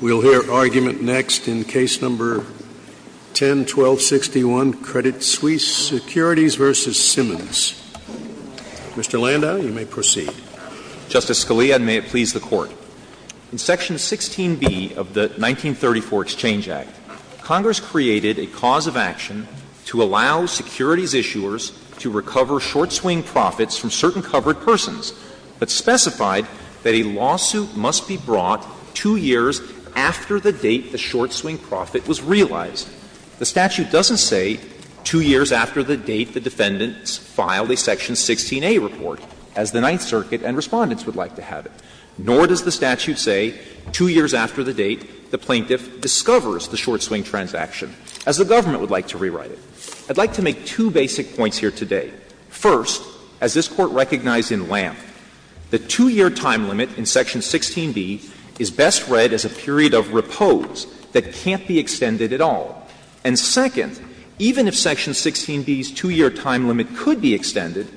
We'll hear argument next in Case No. 10-1261, Credit Suisse Securities v. Simmonds. Mr. Landau, you may proceed. Justice Scalia, and may it please the Court, in Section 16b of the 1934 Exchange Act, Congress created a cause of action to allow securities issuers to recover short-swing profits from two years after the date the short-swing profit was realized. The statute doesn't say, two years after the date the defendants filed a Section 16a report, as the Ninth Circuit and Respondents would like to have it, nor does the statute say, two years after the date the plaintiff discovers the short-swing transaction, as the government would like to rewrite it. I'd like to make two basic points here today. First, as this Court recognized in LAMP, the two-year time limit in Section 16b is best read as a period of repose that can't be extended at all. And second, even if Section 16b's two-year time limit could be extended,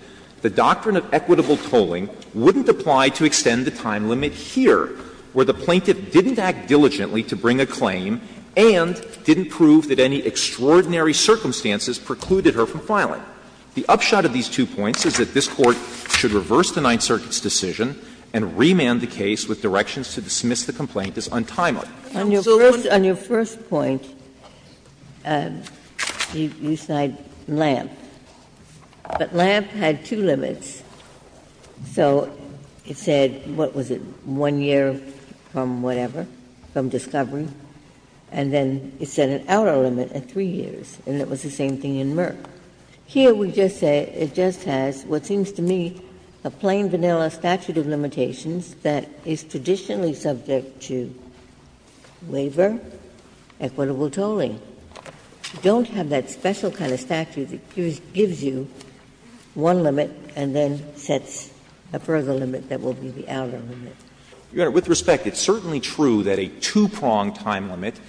the doctrine of equitable tolling wouldn't apply to extend the time limit here, where the plaintiff didn't act diligently to bring a claim and didn't prove that any extraordinary circumstances precluded her from filing. The upshot of these two points is that this Court should reverse the Ninth Circuit's decision and remand the case with directions to dismiss the complaint as untimely. Ginsburg. On your first point, you cite LAMP, but LAMP had two limits. So it said, what was it, one year from whatever, from discovery, and then it said an outer limit at 3 years, and it was the same thing in Merck. Here we just say it just has what seems to me a plain, vanilla statute of limitations that is traditionally subject to waiver, equitable tolling. You don't have that special kind of statute that gives you one limit and then sets a further limit that will be the outer limit. With respect, it's certainly true that a two-prong time limit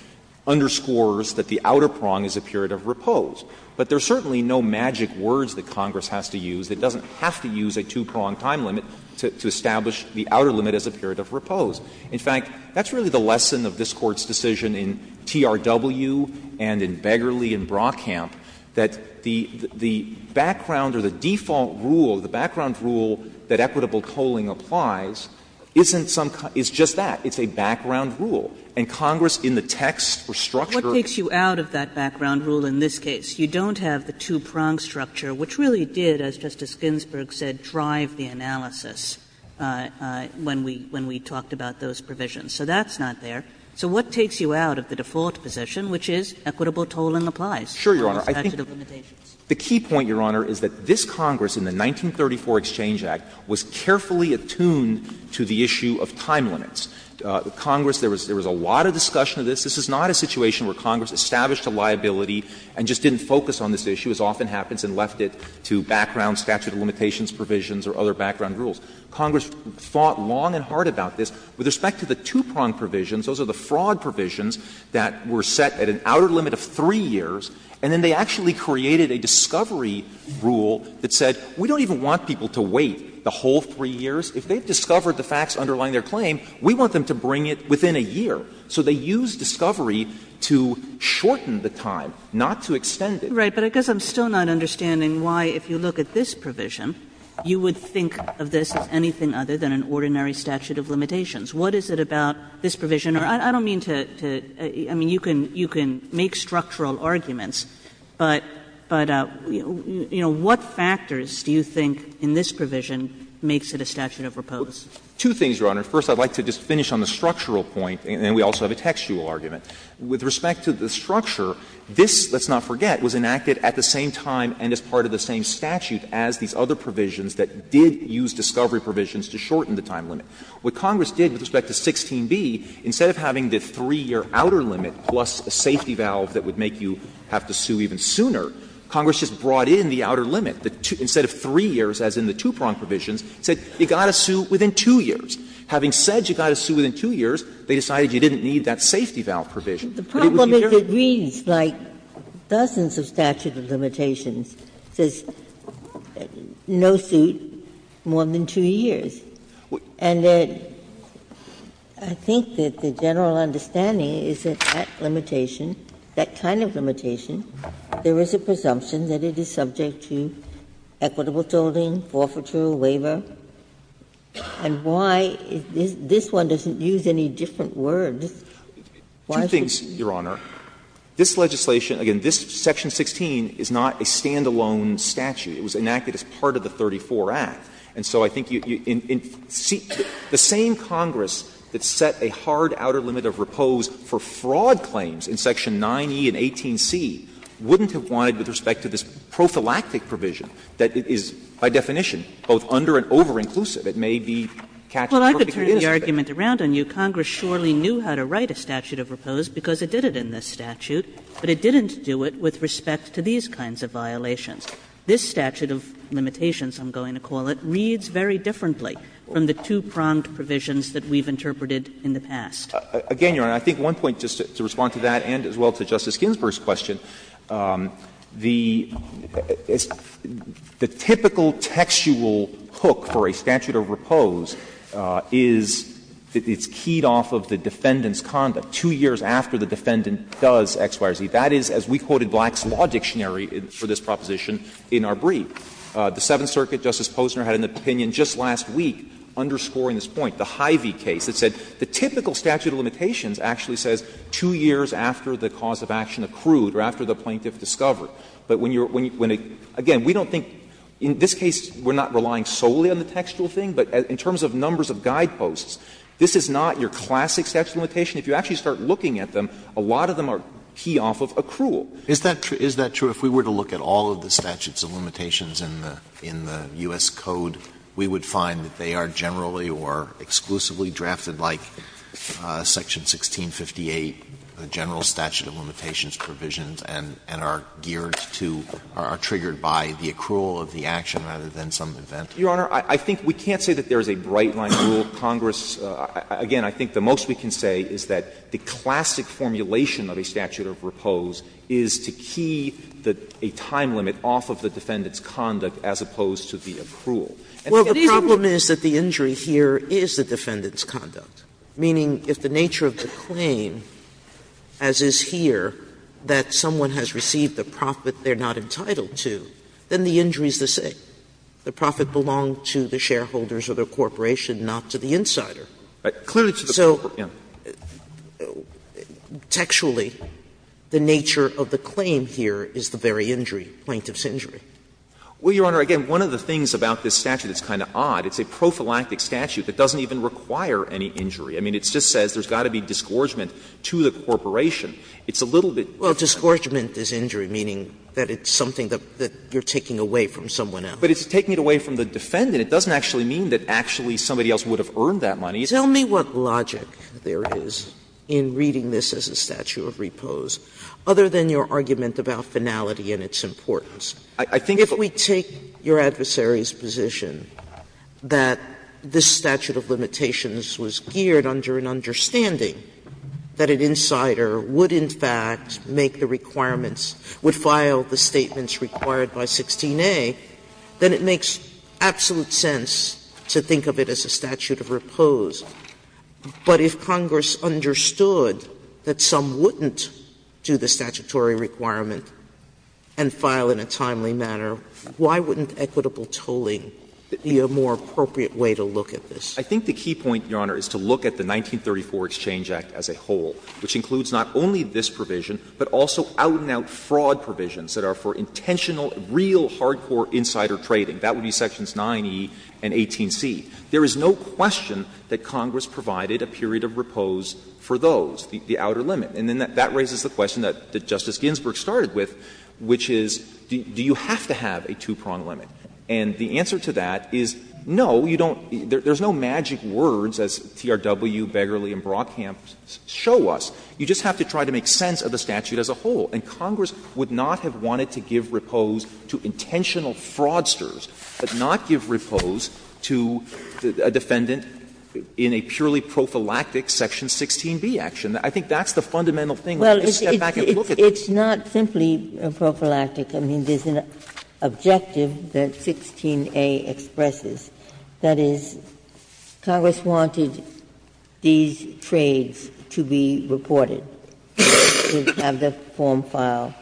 underscores that the outer prong is a period of repose. But there are certainly no magic words that Congress has to use that doesn't have to use a two-prong time limit to establish the outer limit as a period of repose. In fact, that's really the lesson of this Court's decision in TRW and in Beggerle and Brockamp, that the background or the default rule, the background rule that equitable tolling applies, isn't some kind of — is just that. It's a background rule. Kagan, if you don't have the two-prong structure, which really did, as Justice Ginsburg said, drive the analysis when we — when we talked about those provisions, so that's not there. So what takes you out of the default position, which is equitable tolling applies under the statute of limitations? Sure, Your Honor. I think the key point, Your Honor, is that this Congress in the 1934 Exchange Act was carefully attuned to the issue of time limits. Congress — there was a lot of discussion of this. This is not a situation where Congress established a liability and just didn't focus on this issue, as often happens, and left it to background statute of limitations provisions or other background rules. Congress thought long and hard about this. With respect to the two-prong provisions, those are the fraud provisions that were set at an outer limit of 3 years, and then they actually created a discovery rule that said, we don't even want people to wait the whole 3 years. If they've discovered the facts underlying their claim, we want them to bring it within a year. So they used discovery to shorten the time, not to extend it. Right. But I guess I'm still not understanding why, if you look at this provision, you would think of this as anything other than an ordinary statute of limitations. What is it about this provision? I don't mean to — I mean, you can make structural arguments, but, you know, what factors do you think in this provision makes it a statute of repose? Two things, Your Honor. First, I'd like to just finish on the structural point, and then we also have a textual argument. With respect to the structure, this, let's not forget, was enacted at the same time and as part of the same statute as these other provisions that did use discovery provisions to shorten the time limit. What Congress did with respect to 16b, instead of having the 3-year outer limit plus a safety valve that would make you have to sue even sooner, Congress just brought in the outer limit, instead of 3 years as in the two-prong provisions, said you've got to sue within 2 years. Having said you've got to sue within 2 years, they decided you didn't need that safety valve provision. But it would be fairer to say that this statute of limitations is a statute of repose. Ginsburg. The problem is it reads like dozens of statute of limitations, says no suit, more than 2 years, and I think that the general understanding is that that limitation, that kind of limitation, there is a presumption that it is subject to equitable thresholding, forfeiture, waiver, and why is this one doesn't use any different words. Why is it? Clements. This legislation, again, this section 16 is not a stand-alone statute. It was enacted as part of the 34 Act, and so I think you see the same Congress that set a hard outer limit of repose for fraud claims in section 9e and 18c wouldn't have wanted with respect to this prophylactic provision that is, by definition, both under and over-inclusive. It may be catched in the work that it is. Kagan. Well, I could turn the argument around on you. Congress surely knew how to write a statute of repose because it did it in this statute, but it didn't do it with respect to these kinds of violations. This statute of limitations, I'm going to call it, reads very differently from the two-pronged provisions that we've interpreted in the past. Again, Your Honor, I think one point, just to respond to that and as well to Justice Ginsburg's question, the typical textual hook for a statute of repose is that it's keyed off of the defendant's conduct two years after the defendant does X, Y, or Z. That is, as we quoted Black's Law Dictionary for this proposition in our brief. The Seventh Circuit, Justice Posner had an opinion just last week underscoring this point, the Hy-Vee case, that said the typical statute of limitations actually says two years after the cause of action accrued or after the plaintiff discovered. But when you're going to – again, we don't think – in this case, we're not relying solely on the textual thing, but in terms of numbers of guideposts, this is not your classic statute of limitation. If you actually start looking at them, a lot of them are keyed off of accrual. Alito, is that true? If we were to look at all of the statutes of limitations in the U.S. Code, we would find that they are generally or exclusively drafted like Section 1658, the general statute of limitations provisions, and are geared to – are triggered by the accrual of the action rather than some event? Your Honor, I think we can't say that there is a bright-line rule. Congress – again, I think the most we can say is that the classic formulation of a statute of repose is to key a time limit off of the defendant's conduct as opposed to the accrual. Sotomayor Well, the problem is that the injury here is the defendant's conduct. Meaning, if the nature of the claim, as is here, that someone has received the profit they're not entitled to, then the injury is the same. The profit belonged to the shareholders of the corporation, not to the insider. So, textually, the nature of the claim here is the very injury, plaintiff's injury. Well, Your Honor, again, one of the things about this statute that's kind of odd, it's a prophylactic statute that doesn't even require any injury. I mean, it just says there's got to be disgorgement to the corporation. It's a little bit different. Sotomayor Well, disgorgement is injury, meaning that it's something that you're taking away from someone else. But it's taking it away from the defendant. It doesn't actually mean that actually somebody else would have earned that money. Sotomayor Tell me what logic there is in reading this as a statute of repose, other than your argument about finality and its importance. I think if we take your adversary's position, that this statute of limitations was geared under an understanding that an insider would, in fact, make the requirements, would file the statements required by 16a, then it makes absolute sense to think of it as a statute of repose. But if Congress understood that some wouldn't do the statutory requirement and file in a timely manner, why wouldn't equitable tolling be a more appropriate way to look at this? I think the key point, Your Honor, is to look at the 1934 Exchange Act as a whole, which includes not only this provision, but also out-and-out fraud provisions that are for intentional, real, hardcore insider trading. That would be sections 9e and 18c. There is no question that Congress provided a period of repose for those, the outer limit. And then that raises the question that Justice Ginsburg started with, which is, do you have to have a two-prong limit? And the answer to that is, no, you don't. There's no magic words, as TRW, Begerle, and Brockham show us. You just have to try to make sense of the statute as a whole. And Congress would not have wanted to give repose to intentional fraudsters, but not give repose to a defendant in a purely prophylactic section 16b action. I think that's the fundamental thing. We have to step back and look at this. Ginsburg. It's not simply prophylactic. I mean, there's an objective that 16a expresses. That is, Congress wanted these trades to be reported, to have the form file,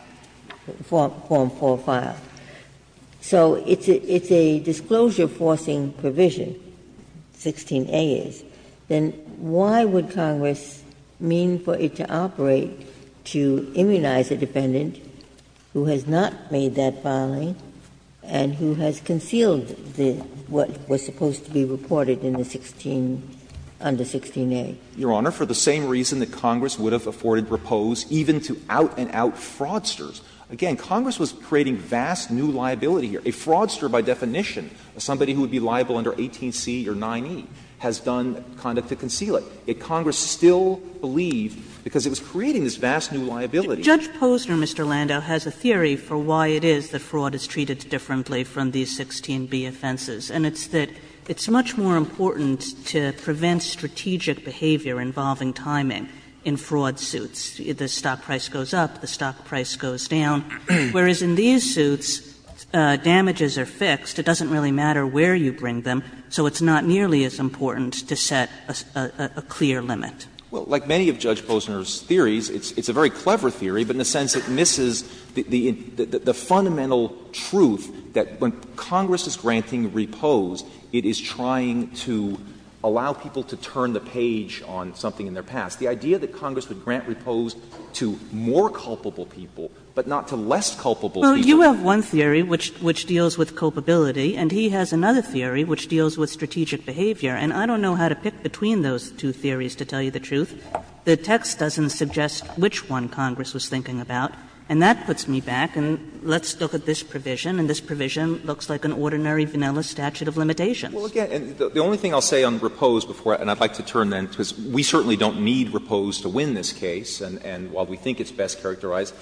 form for file. So it's a disclosure-forcing provision, 16a is. Then why would Congress mean for it to operate to immunize a defendant who has not made that filing and who has concealed what was supposed to be reported in the 16 under 16a? Your Honor, for the same reason that Congress would have afforded repose even to out-and-out fraudsters. Again, Congress was creating vast new liability here. A fraudster, by definition, somebody who would be liable under 18c or 9e, has done conduct to conceal it. Yet Congress still believed, because it was creating this vast new liability. Judge Posner, Mr. Lando, has a theory for why it is that fraud is treated differently from these 16b offenses, and it's that it's much more important to prevent strategic behavior involving timing in fraud suits. The stock price goes up, the stock price goes down. Whereas in these suits, damages are fixed. It doesn't really matter where you bring them, so it's not nearly as important to set a clear limit. Well, like many of Judge Posner's theories, it's a very clever theory, but in a sense it misses the fundamental truth that when Congress is granting repose, it is trying to allow people to turn the page on something in their past. The idea that Congress would grant repose to more culpable people, but not to less culpable people. Well, you have one theory which deals with culpability, and he has another theory which deals with strategic behavior. And I don't know how to pick between those two theories, to tell you the truth. The text doesn't suggest which one Congress was thinking about, and that puts me back. And let's look at this provision, and this provision looks like an ordinary vanilla statute of limitations. Well, again, the only thing I'll say on repose before that, and I'd like to turn to that, because we certainly don't need repose to win this case, and while we think it's best characterized,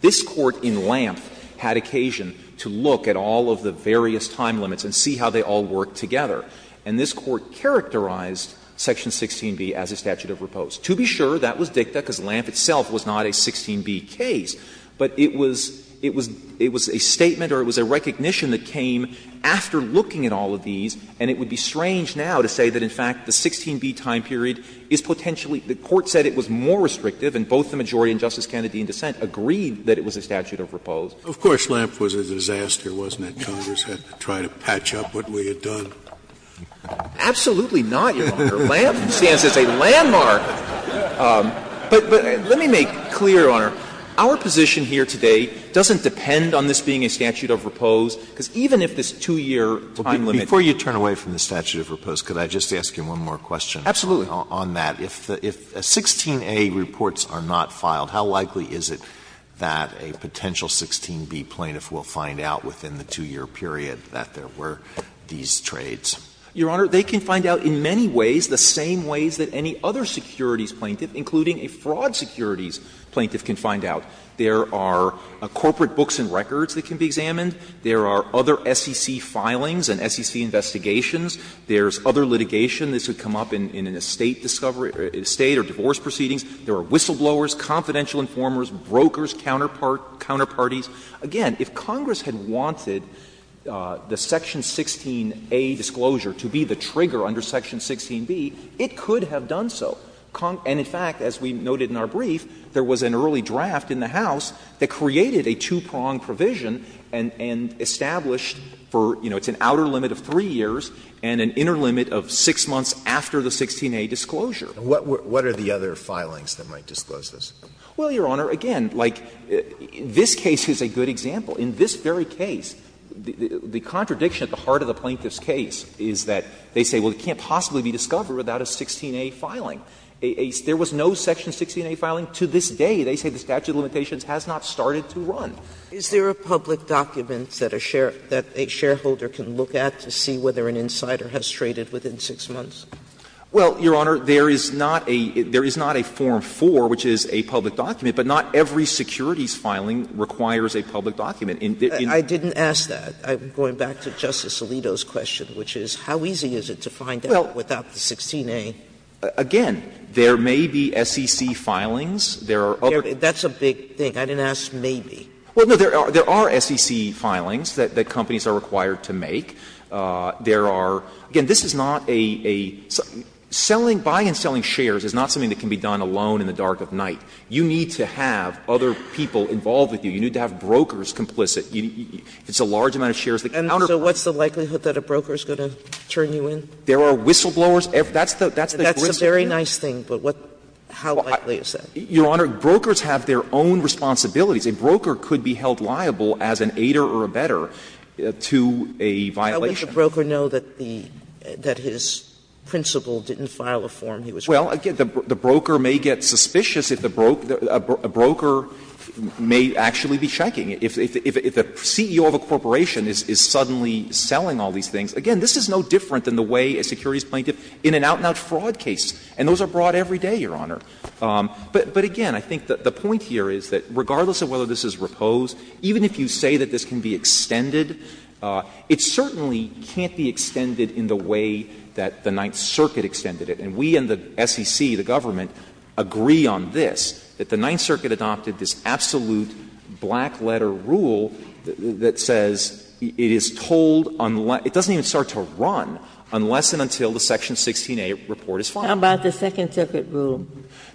this Court in Lamp had occasion to look at all of the various time limits and see how they all work together. And this Court characterized Section 16b as a statute of repose. To be sure, that was dicta, because Lamp itself was not a 16b case. But it was a statement or it was a recognition that came after looking at all of these, and it would be strange now to say that, in fact, the 16b time period is potentially the Court said it was more restrictive, and both the majority and Justice Kennedy in dissent agreed that it was a statute of repose. Scalia. Of course, Lamp was a disaster, wasn't it? Congress had to try to patch up what we had done. Absolutely not, Your Honor. Lamp stands as a landmark. But let me make clear, Your Honor, our position here today doesn't depend on this Turn away from the statute of repose. Could I just ask you one more question on that? Absolutely. If 16a reports are not filed, how likely is it that a potential 16b plaintiff will find out within the 2-year period that there were these trades? Your Honor, they can find out in many ways the same ways that any other securities plaintiff, including a fraud securities plaintiff, can find out. There are corporate books and records that can be examined. There are other SEC filings and SEC investigations. There's other litigation. This would come up in an estate discovery or a state or divorce proceedings. There are whistleblowers, confidential informers, brokers, counterparties. Again, if Congress had wanted the section 16a disclosure to be the trigger under section 16b, it could have done so. And, in fact, as we noted in our brief, there was an early draft in the House that was drafted and established for, you know, it's an outer limit of 3 years and an inner limit of 6 months after the 16a disclosure. And what are the other filings that might disclose this? Well, Your Honor, again, like, this case is a good example. In this very case, the contradiction at the heart of the plaintiff's case is that they say, well, it can't possibly be discovered without a 16a filing. There was no section 16a filing. Sotomayor's Is there a public document that a shareholder can look at to see whether an insider has traded within 6 months? Well, Your Honor, there is not a form 4, which is a public document, but not every securities filing requires a public document. I didn't ask that. I'm going back to Justice Alito's question, which is, how easy is it to find out without the 16a? Again, there may be SEC filings. There are other. That's a big thing. I didn't ask maybe. Well, no, there are SEC filings that companies are required to make. There are – again, this is not a – selling, buying and selling shares is not something that can be done alone in the dark of night. You need to have other people involved with you. You need to have brokers complicit. It's a large amount of shares. And so what's the likelihood that a broker is going to turn you in? There are whistleblowers. That's the risk. That's a very nice thing, but what – how likely is that? Your Honor, brokers have their own responsibilities. A broker could be held liable as an aider or abetter to a violation. Sotomayor, I wish a broker knew that the – that his principal didn't file a form he was required to. Well, again, the broker may get suspicious if the – a broker may actually be checking. If the CEO of a corporation is suddenly selling all these things, again, this is no different than the way a securities plaintiff in an out-and-out fraud case, and those are brought every day, Your Honor. But again, I think the point here is that regardless of whether this is reposed, even if you say that this can be extended, it certainly can't be extended in the way that the Ninth Circuit extended it. And we in the SEC, the government, agree on this, that the Ninth Circuit adopted this absolute black-letter rule that says it is told unless – it doesn't even start to run unless and until the Section 16a report is filed. How about the Second Circuit rule?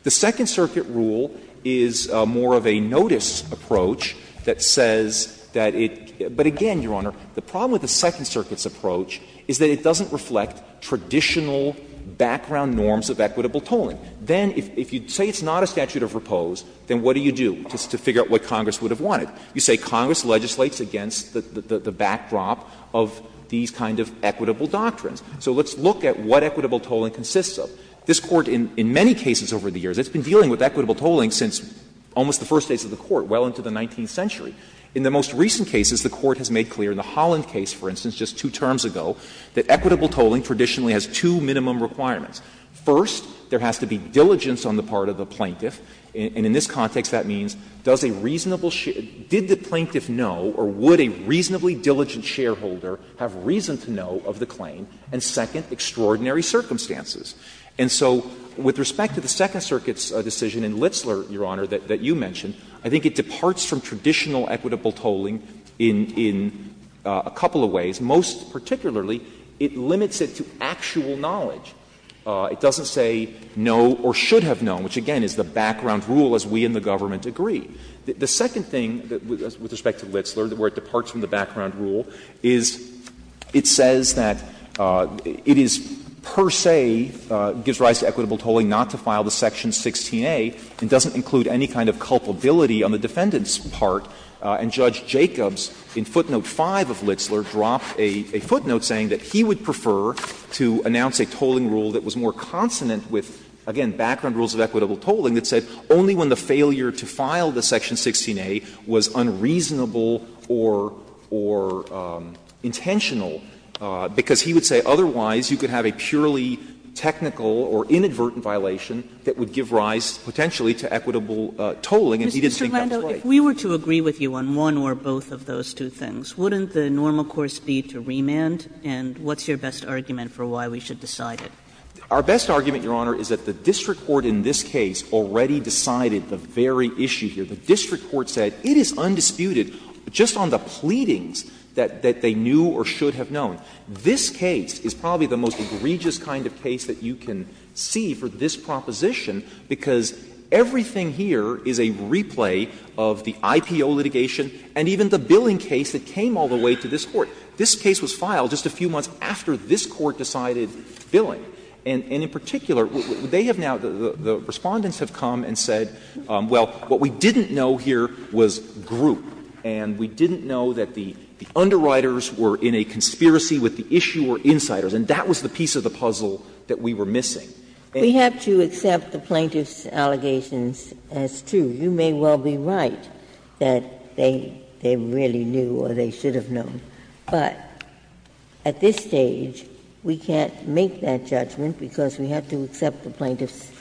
The Second Circuit rule is more of a notice approach that says that it – but again, Your Honor, the problem with the Second Circuit's approach is that it doesn't reflect traditional background norms of equitable tolling. Then if you say it's not a statute of repose, then what do you do to figure out what Congress would have wanted? You say Congress legislates against the backdrop of these kind of equitable doctrines. So let's look at what equitable tolling consists of. This Court in many cases over the years, it's been dealing with equitable tolling since almost the first days of the Court, well into the 19th century. In the most recent cases, the Court has made clear in the Holland case, for instance, just two terms ago, that equitable tolling traditionally has two minimum requirements. First, there has to be diligence on the part of the plaintiff. And in this context, that means does a reasonable – did the plaintiff know or would a reasonably diligent shareholder have reason to know of the claim? And second, extraordinary circumstances. And so with respect to the Second Circuit's decision in Litzler, Your Honor, that you mentioned, I think it departs from traditional equitable tolling in a couple of ways. Most particularly, it limits it to actual knowledge. It doesn't say no or should have known, which again is the background rule as we in the government agree. The second thing with respect to Litzler, where it departs from the background rule, is it says that it is per se gives rise to equitable tolling not to file the section 16a, and doesn't include any kind of culpability on the defendant's part. And Judge Jacobs in footnote 5 of Litzler dropped a footnote saying that he would prefer to announce a tolling rule that was more consonant with, again, background rules of equitable tolling, that said only when the failure to file the section 16a was unreasonable or intentional, because he would say otherwise you could have a purely technical or inadvertent violation that would give rise potentially to equitable tolling, and he didn't think that was right. Kagan. If we were to agree with you on one or both of those two things, wouldn't the normal course be to remand, and what's your best argument for why we should decide it? Our best argument, Your Honor, is that the district court in this case already decided the very issue here. The district court said it is undisputed just on the pleadings that they knew or should have known. This case is probably the most egregious kind of case that you can see for this proposition, because everything here is a replay of the IPO litigation and even the billing case that came all the way to this Court. This case was filed just a few months after this Court decided billing. And in particular, they have now the Respondents have come and said, well, what we didn't know here was group, and we didn't know that the underwriters were in a conspiracy with the issuer or insiders, and that was the piece of the puzzle that we were missing. We have to accept the plaintiff's allegations as true. You may well be right that they really knew or they should have known, but at this stage, we can't make that judgment because we have to accept the plaintiff's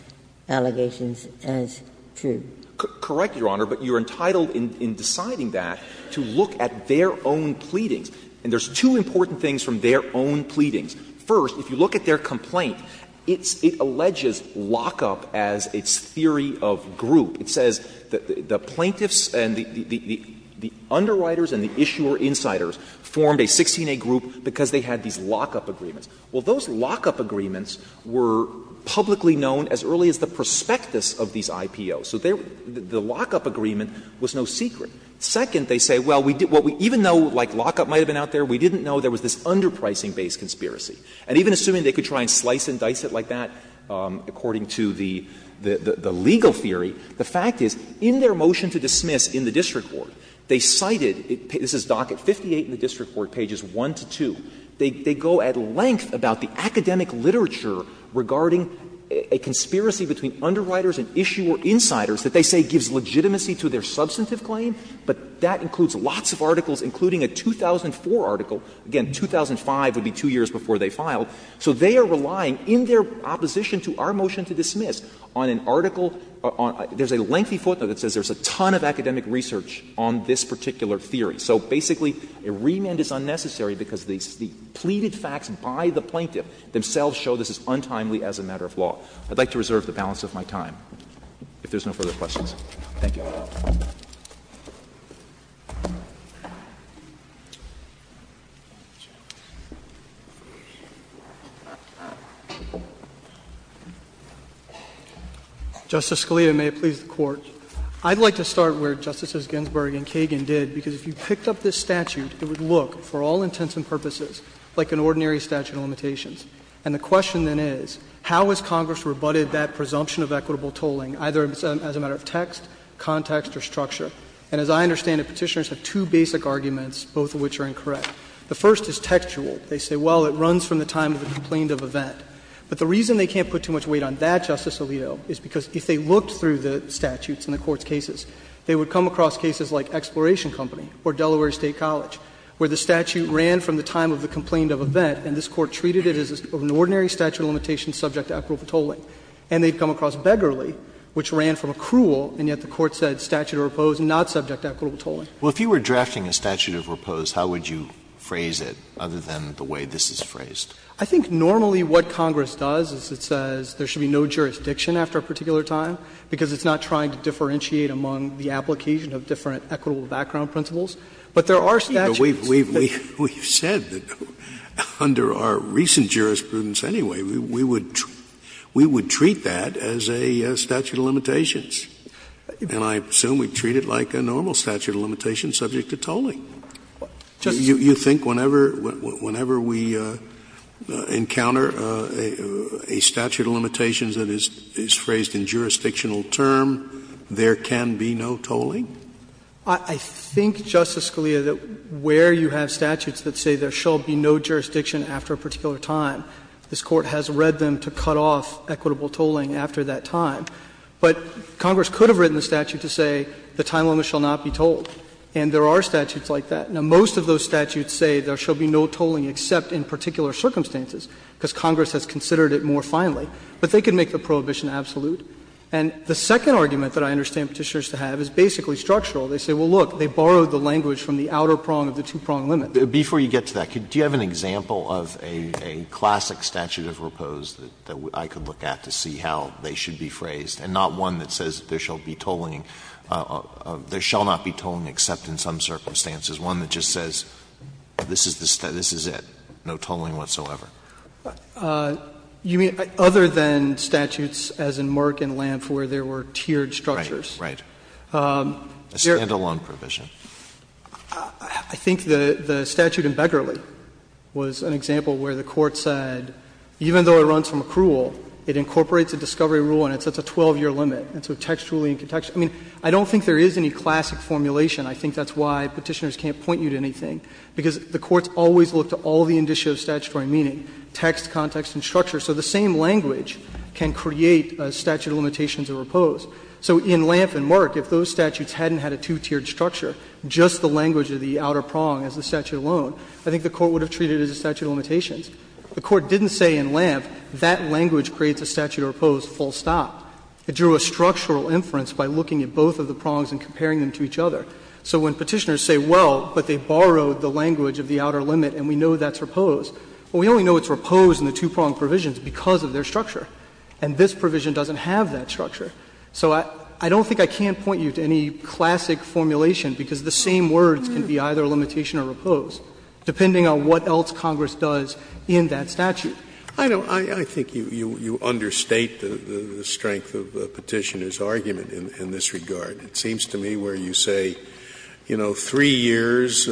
allegations as true. Correct, Your Honor, but you're entitled in deciding that to look at their own pleadings. And there's two important things from their own pleadings. First, if you look at their complaint, it alleges lockup as its theory of group. It says the plaintiffs and the underwriters and the issuer insiders formed a 16A group because they had these lockup agreements. Well, those lockup agreements were publicly known as early as the prospectus of these IPOs. So the lockup agreement was no secret. Second, they say, well, even though, like, lockup might have been out there, we didn't know there was this underpricing-based conspiracy. And even assuming they could try and slice and dice it like that, according to the legal theory, the fact is, in their motion to dismiss in the district court, they cited, this is docket 58 in the district court, pages 1 to 2, they go at length about the academic literature regarding a conspiracy between underwriters and issuer insiders that they say gives legitimacy to their substantive claim. But that includes lots of articles, including a 2004 article. Again, 2005 would be two years before they filed. So they are relying in their opposition to our motion to dismiss on an article on — there's a lengthy footnote that says there's a ton of academic research on this particular theory. So basically, a remand is unnecessary because the pleaded facts by the plaintiff themselves show this is untimely as a matter of law. I would like to reserve the balance of my time, if there's no further questions. Thank you. Justice Scalia, may it please the Court. I'd like to start where Justices Ginsburg and Kagan did, because if you picked up this statute, it would look, for all intents and purposes, like an ordinary statute of limitations. And the question, then, is, how has Congress rebutted that presumption of equitable context or structure? And as I understand it, Petitioners have two basic arguments, both of which are incorrect. The first is textual. They say, well, it runs from the time of the complained of event. But the reason they can't put too much weight on that, Justice Alito, is because if they looked through the statutes in the Court's cases, they would come across cases like Exploration Company or Delaware State College, where the statute ran from the time of the complained of event, and this Court treated it as an ordinary statute of limitations subject to equitable tolling. And they've come across Beggarly, which ran from accrual, and yet the Court said statute of repose not subject to equitable tolling. Alito, if you were drafting a statute of repose, how would you phrase it, other than the way this is phrased? I think normally what Congress does is it says there should be no jurisdiction after a particular time, because it's not trying to differentiate among the application of different equitable background principles. But there are statutes that do that. We would treat that as a statute of limitations. And I assume we'd treat it like a normal statute of limitations subject to tolling. You think whenever we encounter a statute of limitations that is phrased in jurisdictional term, there can be no tolling? I think, Justice Scalia, that where you have statutes that say there shall be no jurisdiction after a particular time, this Court has read them to cut off equitable tolling after that time. But Congress could have written the statute to say the time limit shall not be tolled, and there are statutes like that. Now, most of those statutes say there shall be no tolling except in particular circumstances, because Congress has considered it more finely. But they could make the prohibition absolute. And the second argument that I understand Petitioners to have is basically structural. They say, well, look, they borrowed the language from the outer prong of the two-prong limit. Alito, before you get to that, do you have an example of a classic statute of repose that I could look at to see how they should be phrased, and not one that says there shall be tolling or there shall not be tolling except in some circumstances, one that just says this is the statute, this is it, no tolling whatsoever? You mean other than statutes as in Merck and Lampf where there were tiered structures? Right. Right. A stand-alone provision. I think the statute in Beckerley was an example where the Court said even though it runs from accrual, it incorporates a discovery rule and it sets a 12-year limit. And so textually and contextually — I mean, I don't think there is any classic formulation. I think that's why Petitioners can't point you to anything, because the courts always look to all the indicia of statutory meaning, text, context, and structure. So the same language can create a statute of limitations of repose. So in Lampf and Merck, if those statutes hadn't had a two-tiered structure, just the language of the outer prong as the statute alone, I think the Court would have treated it as a statute of limitations. The Court didn't say in Lampf that language creates a statute of repose full stop. It drew a structural inference by looking at both of the prongs and comparing them to each other. So when Petitioners say, well, but they borrowed the language of the outer limit and we know that's repose, well, we only know it's repose in the two-prong provisions because of their structure, and this provision doesn't have that structure. So I don't think I can point you to any classic formulation, because the same words can be either limitation or repose, depending on what else Congress does in that statute. Scalia. I think you understate the strength of Petitioners' argument in this regard. It seems to me where you say, you know, three years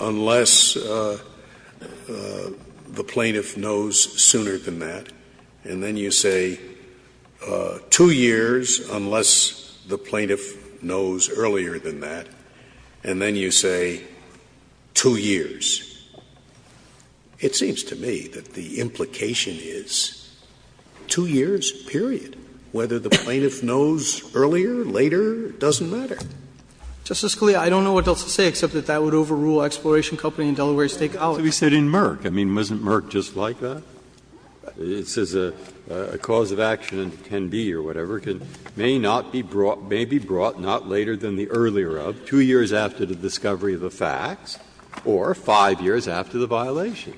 unless the plaintiff knows sooner than that, and then you say two years unless the plaintiff knows earlier than that, and then you say two years, it seems to me that the implication is two years, period. Whether the plaintiff knows earlier, later, doesn't matter. Justice Scalia, I don't know what else to say except that that would overrule Exploration Company and Delaware State College. But we said in Merck. I mean, wasn't Merck just like that? It says a cause of action can be or whatever, may not be brought, may be brought not later than the earlier of, two years after the discovery of the facts, or five years after the violation.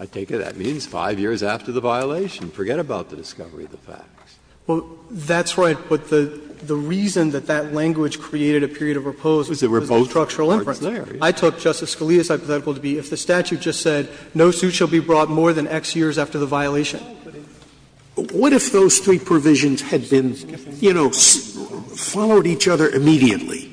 I take it that means five years after the violation. Forget about the discovery of the facts. Well, that's right. But the reason that that language created a period of repose was because of the structural inference. I took Justice Scalia's hypothetical to be if the statute just said no suit shall be brought more than X years after the violation. Scalia, what if those three provisions had been, you know, followed each other immediately?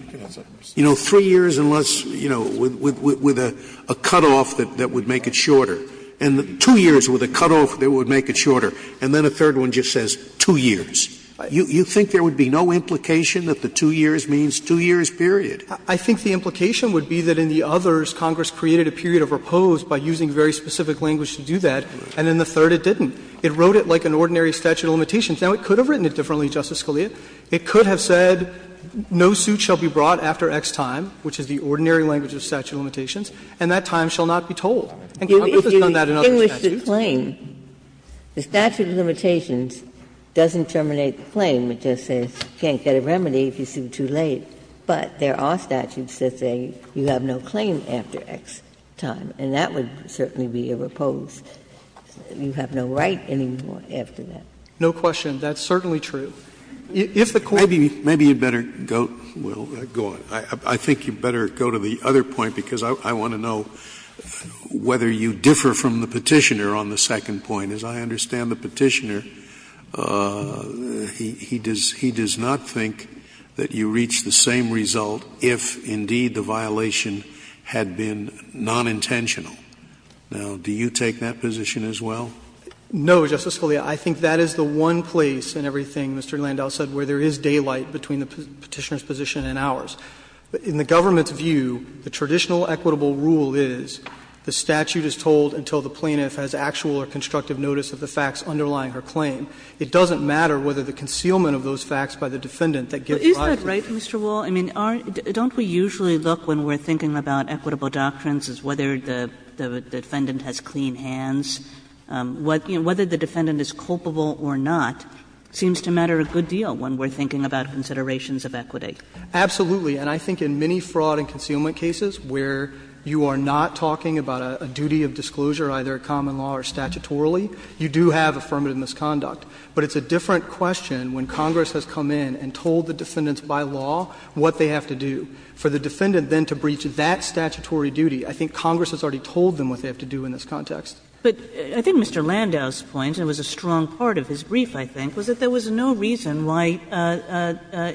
You know, three years unless, you know, with a cutoff that would make it shorter. And two years with a cutoff that would make it shorter. And then a third one just says two years. You think there would be no implication that the two years means two years, period? I think the implication would be that in the others, Congress created a period of repose by using very specific language to do that, and in the third it didn't. It wrote it like an ordinary statute of limitations. Now, it could have written it differently, Justice Scalia. It could have said no suit shall be brought after X time, which is the ordinary language of statute of limitations, and that time shall not be told. And Congress has done that in other statutes. Ginsburg's claim, the statute of limitations doesn't terminate the claim. It just says you can't get a remedy if you sue too late. But there are statutes that say you have no claim after X time, and that would certainly be a repose. You have no right anymore after that. No question. That's certainly true. If the Court Maybe you'd better go, Will, go on. I think you'd better go to the other point, because I want to know whether you differ from the Petitioner on the second point. As I understand the Petitioner, he does not think that you reach the same result if, indeed, the violation had been nonintentional. Now, do you take that position as well? No, Justice Scalia. I think that is the one place in everything Mr. Landau said where there is daylight between the Petitioner's position and ours. In the government's view, the traditional equitable rule is the statute is told until the plaintiff has actual or constructive notice of the facts underlying her claim. It doesn't matter whether the concealment of those facts by the defendant that gets violated. Kagan Isn't that right, Mr. Wall? I mean, don't we usually look when we're thinking about equitable doctrines as whether the defendant has clean hands? Whether the defendant is culpable or not seems to matter a good deal when we're thinking about considerations of equity. Absolutely. And I think in many fraud and concealment cases where you are not talking about a duty of disclosure, either common law or statutorily, you do have affirmative misconduct. But it's a different question when Congress has come in and told the defendants by law what they have to do. For the defendant then to breach that statutory duty, I think Congress has already told them what they have to do in this context. But I think Mr. Landau's point, and it was a strong part of his brief, I think, was that there was no reason why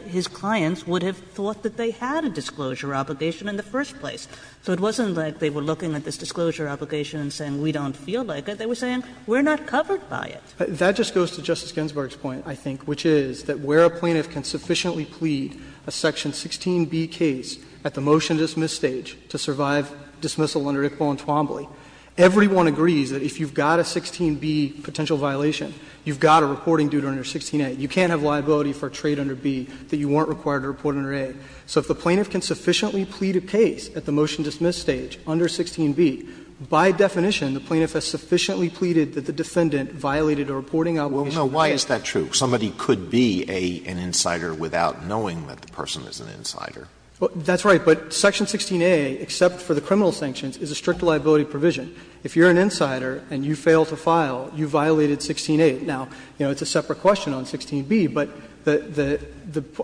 his clients would have thought that they had a disclosure obligation in the first place. So it wasn't like they were looking at this disclosure obligation and saying we don't feel like it. They were saying we're not covered by it. That just goes to Justice Ginsburg's point, I think, which is that where a plaintiff can sufficiently plead a section 16b case at the motion-dismiss stage to survive dismissal under Iqbal and Twombly, everyone agrees that if you've got a 16b potential violation, you've got a reporting duty under 16a. You can't have liability for a trade under b that you weren't required to report under a. So if the plaintiff can sufficiently plead a case at the motion-dismiss stage under 16b, by definition the plaintiff has sufficiently pleaded that the defendant violated a reporting obligation. Alito Well, no. Why is that true? Somebody could be an insider without knowing that the person is an insider. Fisher That's right. But section 16a, except for the criminal sanctions, is a strict liability provision. If you're an insider and you fail to file, you violated 16a. Now, you know, it's a separate question on 16b, but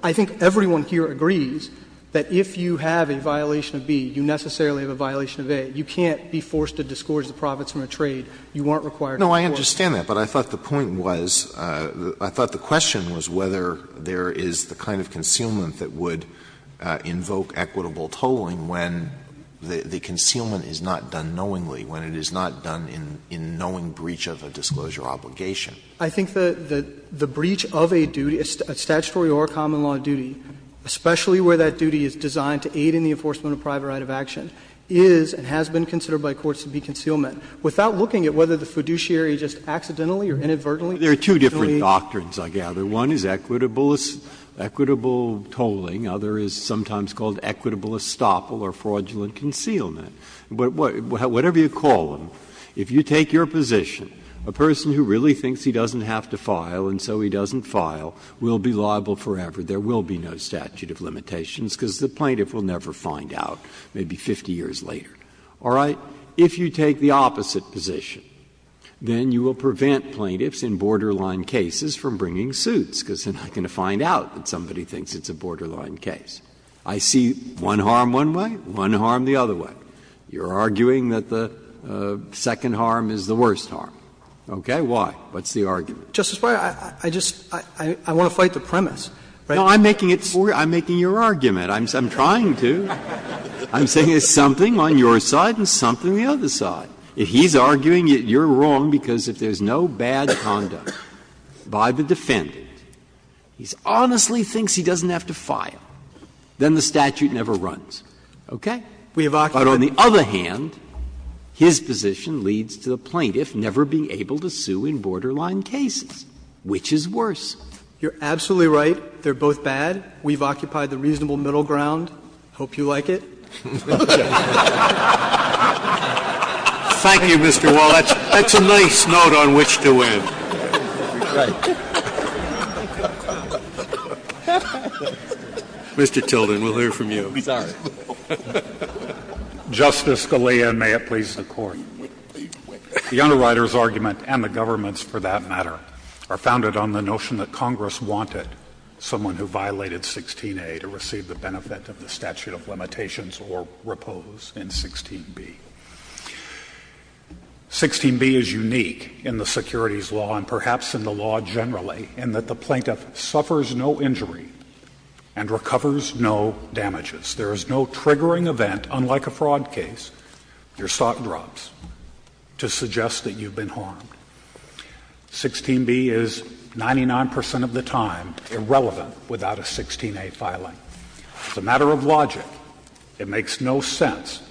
I think everyone here agrees that if you have a violation of b, you necessarily have a violation of a. You can't be forced to disgorge the profits from a trade you weren't required to report. Alito No, I understand that, but I thought the point was, I thought the question was whether there is the kind of concealment that would invoke equitable tolling when the concealment is not done knowingly, when it is not done in knowing breach of a disclosure obligation. Fisher I think the breach of a duty, a statutory or a common law duty, especially where that duty is designed to aid in the enforcement of private right of action, is and has been considered by courts to be concealment. Without looking at whether the fiduciary just accidentally or inadvertently did it. Breyer There are two different doctrines, I gather. One is equitable tolling. The other is sometimes called equitable estoppel or fraudulent concealment. But whatever you call them, if you take your position, a person who really thinks he doesn't have to file and so he doesn't file will be liable forever. There will be no statute of limitations because the plaintiff will never find out, maybe 50 years later. All right? If you take the opposite position, then you will prevent plaintiffs in borderline cases from bringing suits because they are not going to find out that somebody thinks it's a borderline case. I see one harm one way, one harm the other way. You are arguing that the second harm is the worst harm. Okay? Why? What's the argument? Fisher Justice Breyer, I just want to fight the premise. Breyer No, I'm making it for you. I'm making your argument. I'm trying to. I'm saying there's something on your side and something on the other side. If he's arguing that you're wrong because if there's no bad conduct by the defendant, he honestly thinks he doesn't have to file, then the statute never runs. Okay? But on the other hand, his position leads to the plaintiff never being able to sue in borderline cases, which is worse. Fisher You're absolutely right. They're both bad. We've occupied the reasonable middle ground. Hope you like it. Breyer Thank you, Mr. Wall. That's a nice note on which to end. Mr. Tilden, we'll hear from you. We'll be sorry. Justice Scalia, and may it please the Court. The underwriter's argument and the government's, for that matter, are founded on the notion that Congress wanted someone who violated 16a to receive the benefit of the statute of limitations or repose in 16b. 16b is unique in the securities law and perhaps in the law generally in that the plaintiff suffers no injury and recovers no damages. There is no triggering event, unlike a fraud case, your sock drops, to suggest that you've been harmed. 16b is 99 percent of the time irrelevant without a 16a filing. As a matter of logic, it makes no sense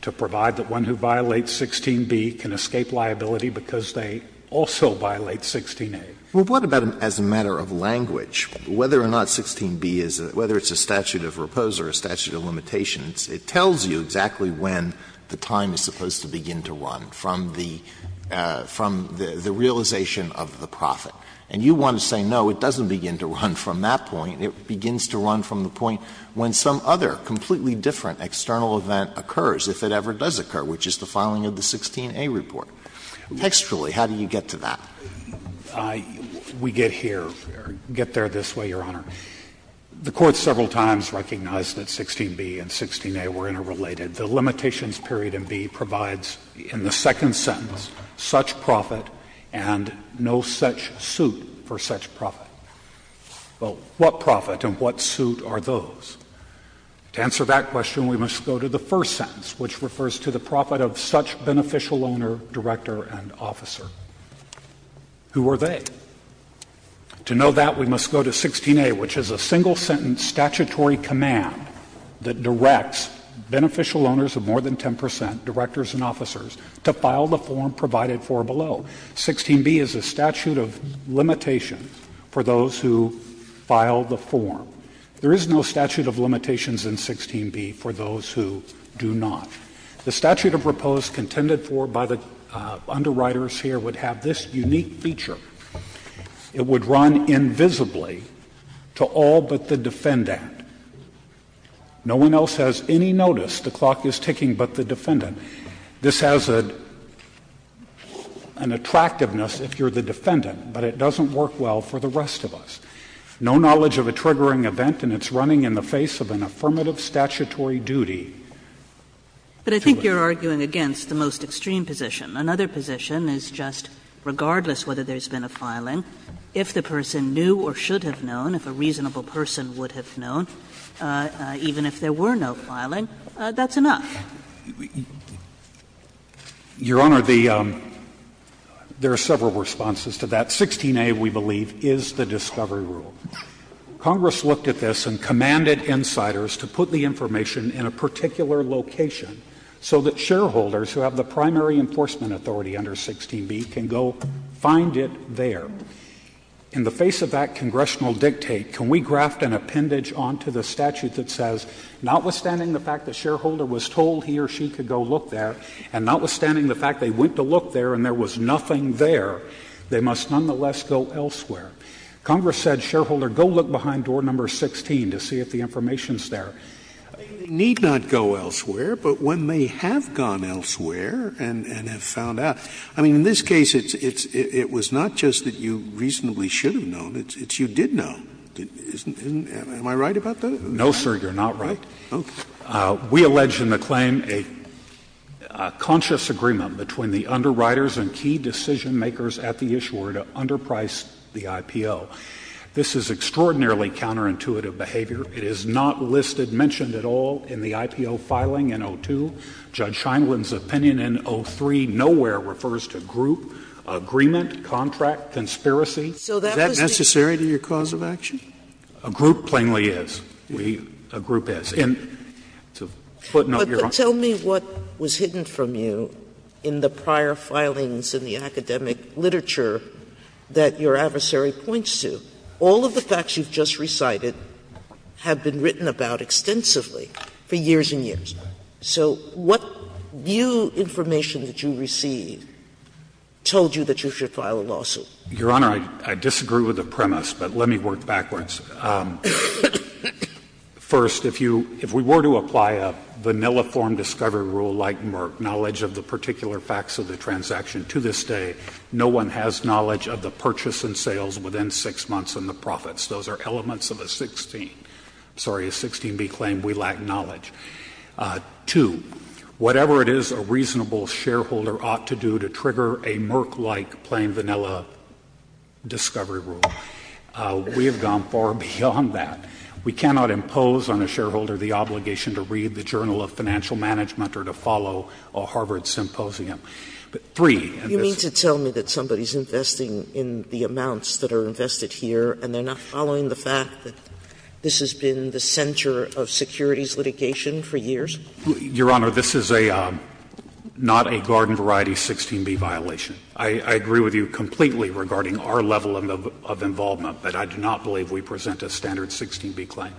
to provide that one who violates 16b can escape liability because they also violate 16a. Alito Well, what about as a matter of language, whether or not 16b is a statute of repose or a statute of limitations, it tells you exactly when the time is supposed to begin to run from the realization of the profit. And you want to say, no, it doesn't begin to run from that point, it begins to run from the point when some other completely different external event occurs, if it ever does occur, which is the filing of the 16a report. Textually, how do you get to that? We get here, get there this way, Your Honor. The Court several times recognized that 16b and 16a were interrelated. The limitations period in B provides, in the second sentence, such profit and no such suit for such profit. Well, what profit and what suit are those? To answer that question, we must go to the first sentence, which refers to the profit of such beneficial owner, director, and officer. Who are they? To know that, we must go to 16a, which is a single sentence statutory command that directs beneficial owners of more than 10 percent, directors and officers, to file the form provided for below. 16b is a statute of limitations for those who file the form. There is no statute of limitations in 16b for those who do not. The statute of repose contended for by the underwriters here would have this unique feature. It would run invisibly to all but the defendant. No one else has any notice. The clock is ticking but the defendant. This has an attractiveness if you're the defendant, but it doesn't work well for the rest of us. No knowledge of a triggering event and it's running in the face of an affirmative statutory duty. But I think you're arguing against the most extreme position. Another position is just regardless whether there's been a filing, if the person knew or should have known, if a reasonable person would have known, even if there were no filing, that's enough. Your Honor, the — there are several responses to that. 16a, we believe, is the discovery rule. Congress looked at this and commanded insiders to put the information in a particular location so that shareholders who have the primary enforcement authority under 16b can go find it there. In the face of that congressional dictate, can we graft an appendage onto the statute that says notwithstanding the fact the shareholder was told he or she could go look there and notwithstanding the fact they went to look there and there was nothing there, they must nonetheless go elsewhere? Congress said, shareholder, go look behind door number 16 to see if the information is there. Scalia, they need not go elsewhere, but when they have gone elsewhere and have found out, I mean, in this case it's — it was not just that you reasonably should have known, it's you did know. Am I right about that? No, sir, you're not right. Okay. We allege in the claim a conscious agreement between the underwriters and key decision makers at the issuer to underprice the IPO. This is extraordinarily counterintuitive behavior. It is not listed, mentioned at all in the IPO filing in 02. Judge Scheinman's opinion in 03 nowhere refers to group, agreement, contract, conspiracy. Is that necessary to your cause of action? A group plainly is. We — a group is. And to put it out your own — Sotomayor, tell me what was hidden from you in the prior filings in the academic literature that your adversary points to. All of the facts you've just recited have been written about extensively for years and years. So what new information that you receive told you that you should file a lawsuit? Your Honor, I disagree with the premise, but let me work backwards. First, if you — if we were to apply a vanilla form discovery rule like Merck, knowledge of the particular facts of the transaction, to this day no one has knowledge of the purchase and sales within 6 months and the profits. Those are elements of a 16 — sorry, a 16b claim. We lack knowledge. Two, whatever it is a reasonable shareholder ought to do to trigger a Merck-like plain vanilla discovery rule. We have gone far beyond that. We cannot impose on a shareholder the obligation to read the Journal of Financial Management or to follow a Harvard symposium. Three, and this is — You mean to tell me that somebody is investing in the amounts that are invested here and they are not following the fact that this has been the center of securities litigation for years? Your Honor, this is a — not a garden variety 16b violation. I agree with you completely regarding our level of involvement, but I do not believe we present a standard 16b claim.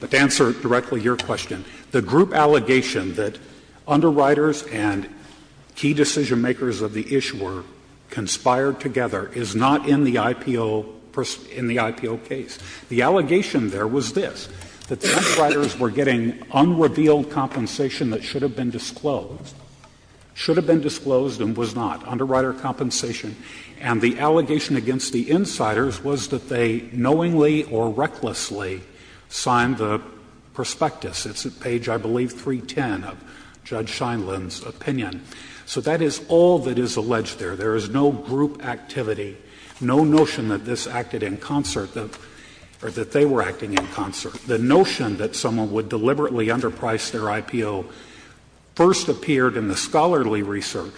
But to answer directly your question, the group allegation that underwriters and key decision-makers of the issuer conspired together is not in the IPO — in the IPO case. The allegation there was this, that the underwriters were getting unrevealed compensation that should have been disclosed — should have been disclosed and was not. Underwriter compensation. And the allegation against the insiders was that they knowingly or recklessly signed the prospectus. It's at page, I believe, 310 of Judge Scheinlein's opinion. So that is all that is alleged there. There is no group activity, no notion that this acted in concert — or that they were acting in concert. The notion that someone would deliberately underpriced their IPO first appeared in the scholarly research.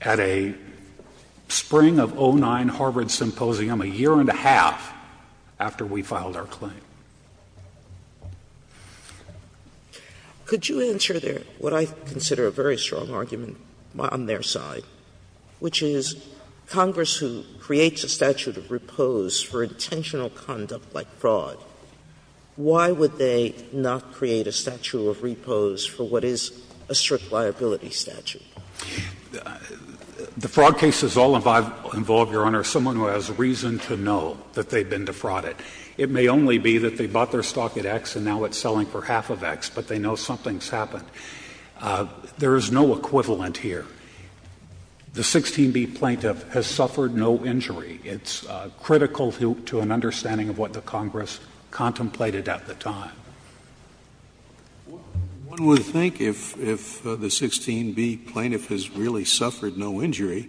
At a spring of 2009 Harvard symposium, a year and a half after we filed our claim. Sotomayor, could you answer what I consider a very strong argument on their side, which is Congress, who creates a statute of repose for intentional conduct like fraud, why would they not create a statute of repose for what is a strict liability statute? The fraud case is all involved, Your Honor, someone who has reason to know that they've been defrauded. It may only be that they bought their stock at X and now it's selling for half of X, but they know something's happened. There is no equivalent here. The 16B plaintiff has suffered no injury. It's critical to an understanding of what the Congress contemplated at the time. One would think if the 16B plaintiff has really suffered no injury,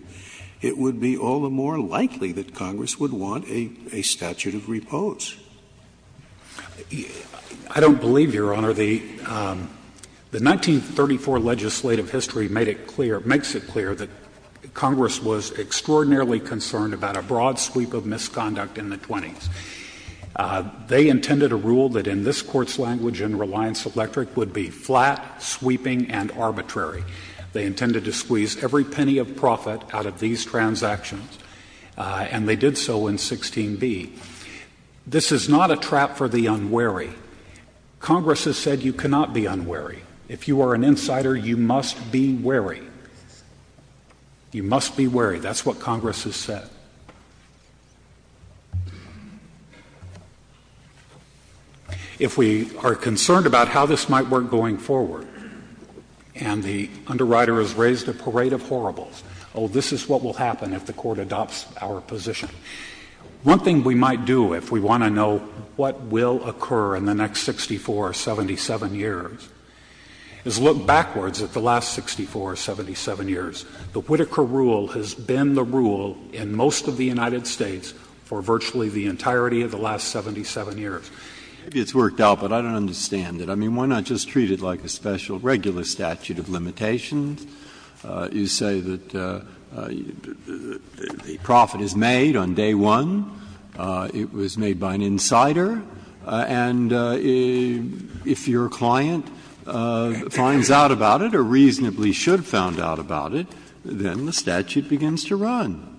it would be all the more likely that Congress would want a statute of repose. I don't believe, Your Honor, the 1934 legislative history made it clear, makes it clear that Congress was extraordinarily concerned about a broad sweep of misconduct in the 20s. They intended a rule that in this Court's language in Reliance Electric would be flat, sweeping, and arbitrary. They intended to squeeze every penny of profit out of these transactions, and they did so in 16B. This is not a trap for the unwary. Congress has said you cannot be unwary. If you are an insider, you must be wary. You must be wary. That's what Congress has said. If we are concerned about how this might work going forward, and the underwriter has raised a parade of horribles, oh, this is what will happen if the Court adopts our position. One thing we might do if we want to know what will occur in the next 64 or 77 years is look backwards at the last 64 or 77 years. The Whitaker rule has been the rule in most of the United States for virtually the entirety of the last 77 years. Breyer, it's worked out, but I don't understand it. I mean, why not just treat it like a special regular statute of limitations? You say that the profit is made on day one. It was made by an insider. And if your client finds out about it or reasonably should find out about it, then the statute begins to run.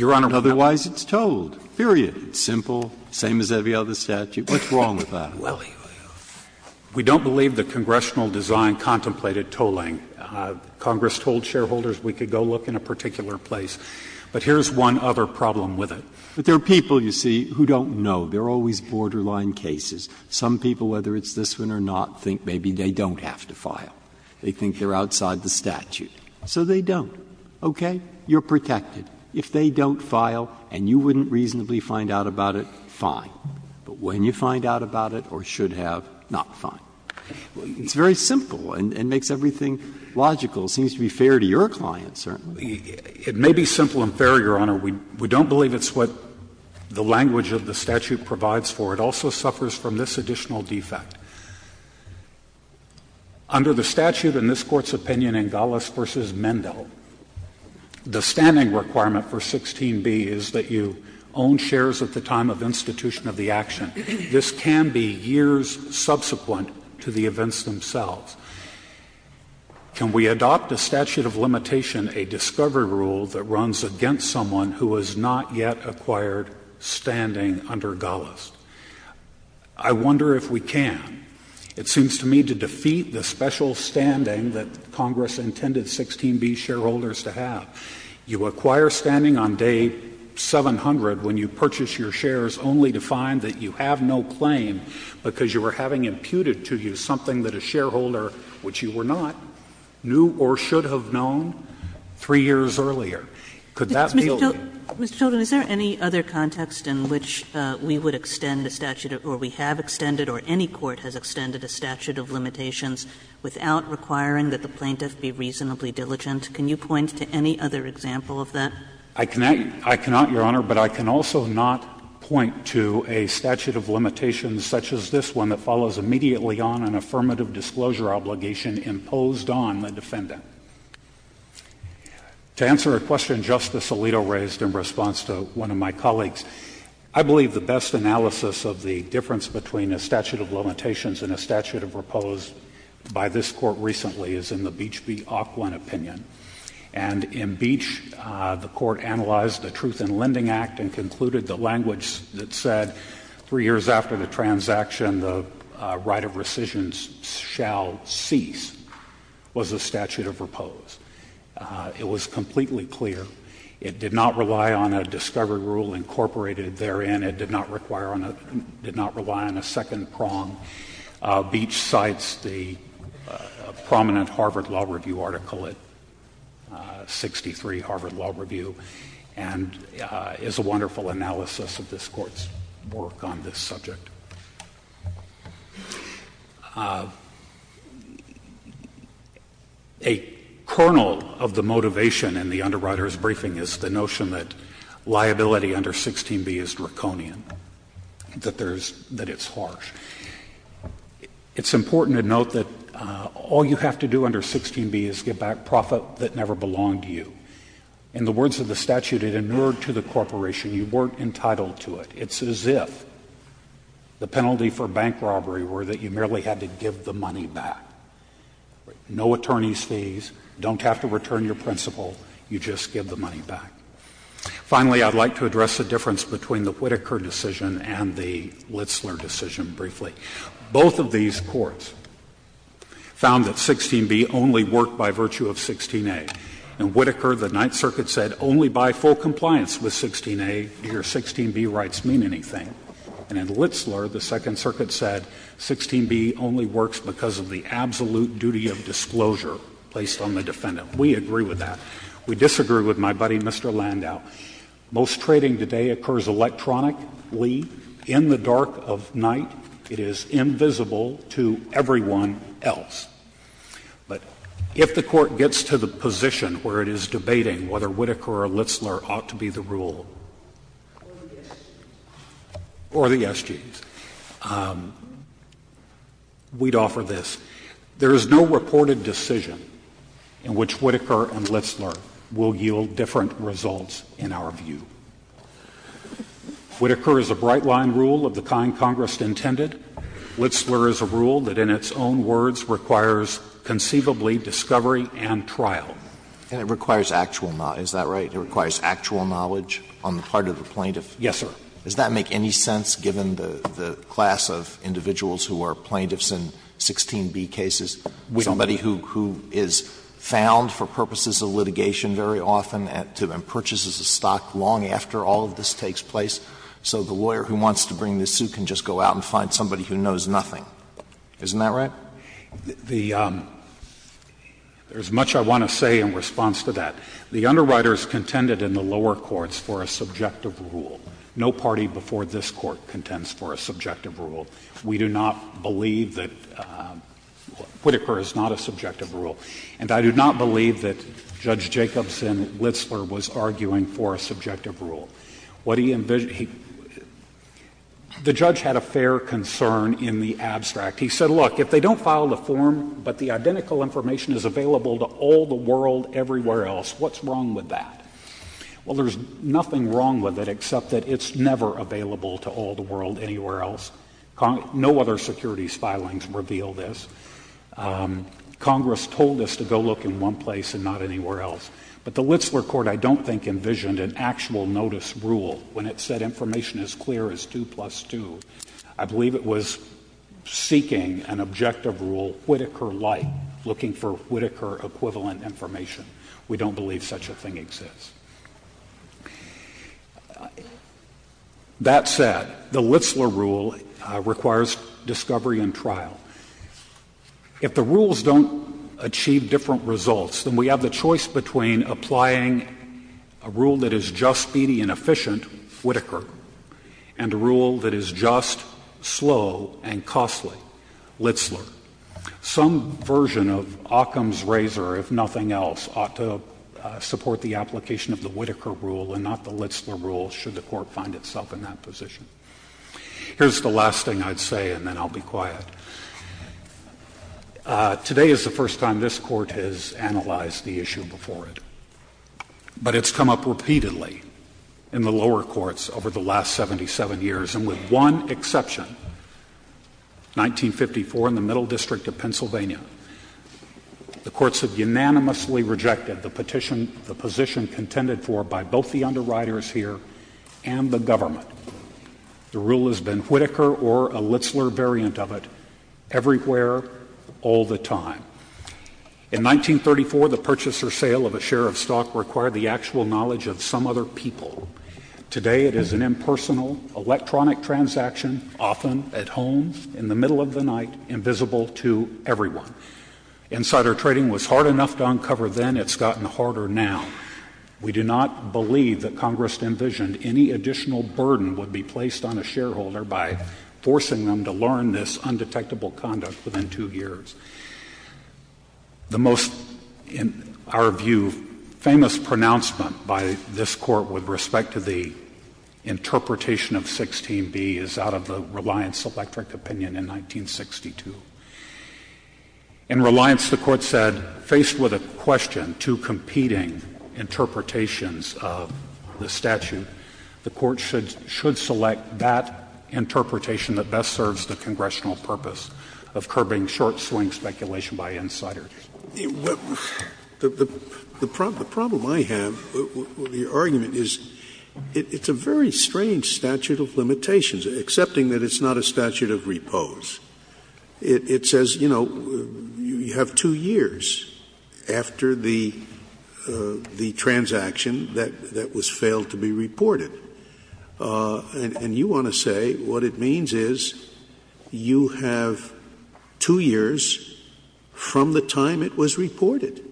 Otherwise, it's told, period. It's simple, same as every other statute. What's wrong with that? Well, we don't believe the congressional design contemplated tolling. Congress told shareholders we could go look in a particular place. But here's one other problem with it. But there are people, you see, who don't know. There are always borderline cases. Some people, whether it's this one or not, think maybe they don't have to file. They think they're outside the statute. So they don't. Okay? You're protected. If they don't file and you wouldn't reasonably find out about it, fine. But when you find out about it or should have, not fine. It's very simple and makes everything logical. It seems to be fair to your client, certainly. It may be simple and fair, Your Honor. We don't believe it's what the language of the statute provides for. It also suffers from this additional defect. Under the statute in this Court's opinion, Ingallis v. Mendell, the standing requirement for 16B is that you own shares at the time of institution of the action. This can be years subsequent to the events themselves. Can we adopt a statute of limitation, a discovery rule that runs against someone who has not yet acquired standing under Ingallis? I wonder if we can. It seems to me to defeat the special standing that Congress intended 16B shareholders to have. You acquire standing on day 700 when you purchase your shares only to find that you have no claim because you were having imputed to you something that a shareholder, which you were not, knew or should have known 3 years earlier. Could that be a little bit? Kagan. Mr. Chilton, is there any other context in which we would extend a statute or we have extended or any court has extended a statute of limitations without requiring that the plaintiff be reasonably diligent? Can you point to any other example of that? I cannot, Your Honor, but I can also not point to a statute of limitations such as this one that follows immediately on an affirmative disclosure obligation imposed on the defendant. To answer a question Justice Alito raised in response to one of my colleagues, I believe the best analysis of the difference between a statute of limitations and a statute of repose by this Court recently is in the Beach v. Auckland opinion. And in Beach, the Court analyzed the Truth in Lending Act and concluded the language that said, 3 years after the transaction, the right of rescissions shall cease, was the statute of repose. It was completely clear. It did not rely on a discovery rule incorporated therein. It did not require on a — did not rely on a second prong. Beach cites the prominent Harvard Law Review article at 63, Harvard Law Review, and is a wonderful analysis of this Court's work on this subject. A kernel of the motivation in the underwriter's briefing is the notion that liability under 16b is draconian, that there's — that it's harsh. It's important to note that all you have to do under 16b is give back profit that never belonged to you. In the words of the statute, it inured to the corporation. You weren't entitled to it. It's as if the penalty for bank robbery were that you merely had to give the money back. No attorney's fees. Don't have to return your principal. You just give the money back. Finally, I'd like to address the difference between the Whitaker decision and the Litzler decision, and I'll do that very briefly. Both of these courts found that 16b only worked by virtue of 16a. In Whitaker, the Ninth Circuit said only by full compliance with 16a do your 16b rights mean anything. And in Litzler, the Second Circuit said 16b only works because of the absolute duty of disclosure placed on the defendant. We agree with that. We disagree with my buddy, Mr. Landau. Most trading today occurs electronically in the dark of night. It is invisible to everyone else. But if the Court gets to the position where it is debating whether Whitaker or Litzler ought to be the rule or the SGs, we'd offer this. There is no reported decision in which Whitaker and Litzler will yield different results in our view. Whitaker is a bright-line rule of the kind Congress intended. Litzler is a rule that in its own words requires conceivably discovery and trial. Alitoso, and it requires actual knowledge, is that right? It requires actual knowledge on the part of the plaintiff? Yes, sir. Does that make any sense, given the class of individuals who are plaintiffs in 16b cases, somebody who is found for purposes of litigation very often to imply that the plaintiff purchases a stock long after all of this takes place so the lawyer who wants to bring this suit can just go out and find somebody who knows nothing? Isn't that right? There is much I want to say in response to that. The underwriters contended in the lower courts for a subjective rule. No party before this Court contends for a subjective rule. We do not believe that Whitaker is not a subjective rule. And I do not believe that Judge Jacobson Litzler was arguing for a subjective rule. What he envisioned — the judge had a fair concern in the abstract. He said, look, if they don't file the form, but the identical information is available to all the world everywhere else, what's wrong with that? Well, there's nothing wrong with it except that it's never available to all the world anywhere else. No other securities filings reveal this. Congress told us to go look in one place and not anywhere else. But the Litzler Court, I don't think, envisioned an actual notice rule when it said information as clear as 2 plus 2. I believe it was seeking an objective rule, Whitaker-like, looking for Whitaker-equivalent information. We don't believe such a thing exists. That said, the Litzler rule requires discovery and trial. If the rules don't achieve different results, then we have the choice between applying a rule that is just, speedy, and efficient, Whitaker, and a rule that is just, slow, and costly, Litzler. Some version of Occam's razor, if nothing else, ought to support the application of the Whitaker rule and not the Litzler rule, should the Court find itself in that position. Here's the last thing I'd say, and then I'll be quiet. Today is the first time this Court has analyzed the issue before it. But it's come up repeatedly in the lower courts over the last 77 years, and with one exception, 1954, in the Middle District of Pennsylvania. The courts have unanimously rejected the position contended for by both the underwriters here and the government. The rule has been Whitaker or a Litzler variant of it everywhere, all the time. In 1934, the purchase or sale of a share of stock required the actual knowledge of some other people. Today it is an impersonal, electronic transaction, often at home, in the middle of the night, invisible to everyone. Insider trading was hard enough to uncover then, it's gotten harder now. We do not believe that Congress envisioned any additional burden would be placed on a shareholder by forcing them to learn this undetectable conduct within two years. The most, in our view, famous pronouncement by this Court with respect to the interpretation of 16B is out of the Reliance Electric opinion in 1962. In Reliance, the Court said, faced with a question, two competing interpretations of the statute, the Court should select that interpretation that best serves the Congressional purpose of curbing short-swing speculation by insiders. Scalia. The problem I have with your argument is it's a very strange statute of limitations, excepting that it's not a statute of repose. It says, you know, you have two years after the transaction that was failed to be reported. And you want to say what it means is you have two years from the time it was reported.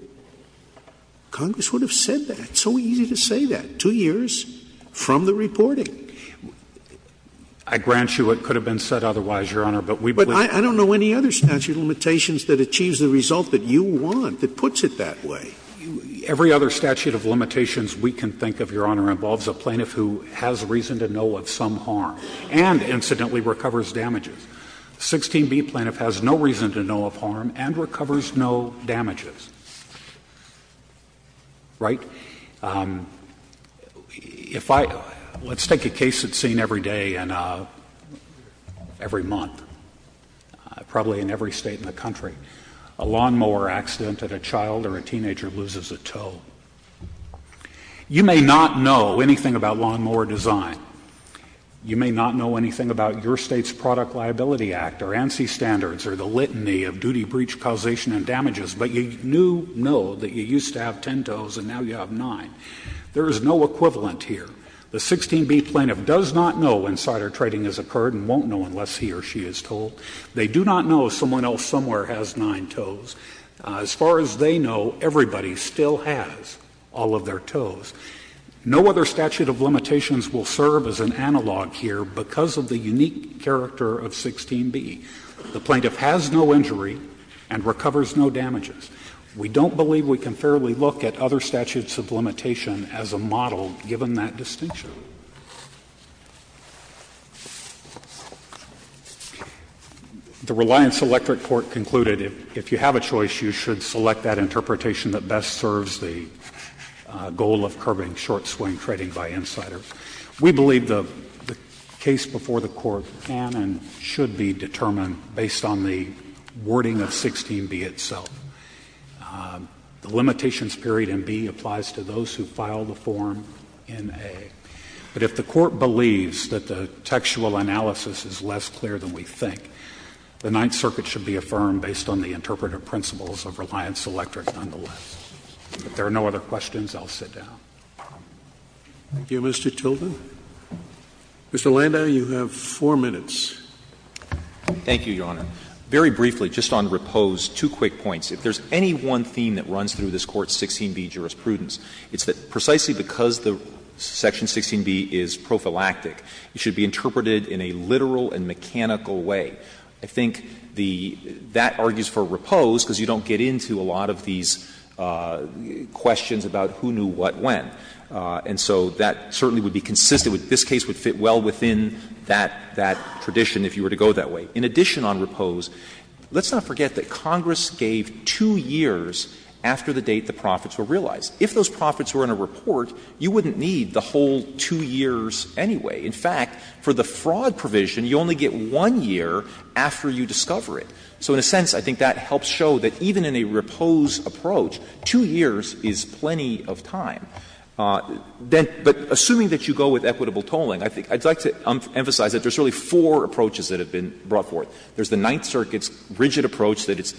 Congress would have said that. It's so easy to say that. Two years from the reporting. I grant you it could have been said otherwise, Your Honor, but we believe that. But I don't know any other statute of limitations that achieves the result that you want that puts it that way. Every other statute of limitations we can think of, Your Honor, involves a plaintiff who has reason to know of some harm and, incidentally, recovers damages. 16B plaintiff has no reason to know of harm and recovers no damages. Right? If I — let's take a case that's seen every day and every month, probably in every state in the country, a lawnmower accident and a child or a teenager loses a toe. You may not know anything about lawnmower design. You may not know anything about your State's Product Liability Act or ANSI standards or the litany of duty breach causation and damages, but you do know that you used to have ten toes and now you have nine. There is no equivalent here. The 16B plaintiff does not know insider trading has occurred and won't know unless he or she is told. They do not know someone else somewhere has nine toes. As far as they know, everybody still has all of their toes. No other statute of limitations will serve as an analog here because of the unique character of 16B. The plaintiff has no injury and recovers no damages. We don't believe we can fairly look at other statutes of limitation as a model given that distinction. The Reliance Electric Court concluded if you have a choice, you should select that interpretation that best serves the goal of curbing short swing trading by insider. We believe the case before the Court can and should be determined based on the wording of 16B itself. The limitations period in B applies to those who file the form in A. But if the Court believes that the textual analysis is less clear than we think, the Ninth Circuit should be affirmed based on the interpretive principles of Reliance Electric nonetheless. If there are no other questions, I'll sit down. Thank you, Mr. Tilden. Mr. Landau, you have four minutes. Thank you, Your Honor. Very briefly, just on repose, two quick points. If there is any one theme that runs through this Court's 16B jurisprudence, it's that precisely because the section 16B is prophylactic, it should be interpreted in a literal and mechanical way. I think the — that argues for repose because you don't get into a lot of these questions about who knew what when. And so that certainly would be consistent with — this case would fit well within that — that tradition if you were to go that way. In addition on repose, let's not forget that Congress gave two years after the date the profits were realized. If those profits were in a report, you wouldn't need the whole two years anyway. In fact, for the fraud provision, you only get one year after you discover it. So in a sense, I think that helps show that even in a repose approach, two years is plenty of time. Then — but assuming that you go with equitable tolling, I think I'd like to emphasize that there's really four approaches that have been brought forth. There's the Ninth Circuit's rigid approach that it's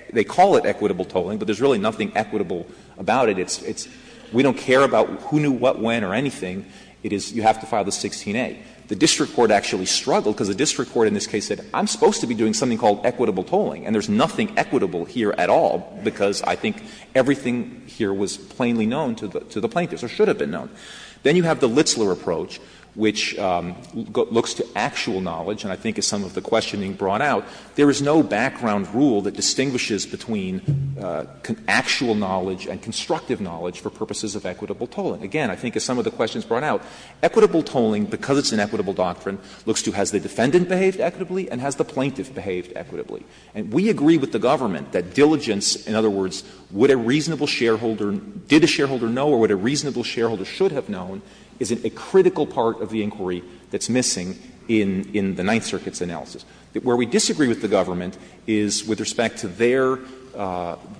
— they call it equitable tolling because there's nothing equitable about it. It's — it's — we don't care about who knew what when or anything. It is — you have to file the 16a. The district court actually struggled because the district court in this case said I'm supposed to be doing something called equitable tolling, and there's nothing equitable here at all because I think everything here was plainly known to the — to the plaintiffs or should have been known. Then you have the Litzler approach, which looks to actual knowledge. And I think, as some of the questioning brought out, there is no background rule that distinguishes between actual knowledge and constructive knowledge for purposes of equitable tolling. Again, I think as some of the questions brought out, equitable tolling, because it's an equitable doctrine, looks to has the defendant behaved equitably and has the plaintiff behaved equitably. And we agree with the government that diligence, in other words, would a reasonable shareholder — did a shareholder know or would a reasonable shareholder should have known, is a critical part of the inquiry that's missing in — in the Ninth Circuit's analysis. Where we disagree with the government is with respect to their —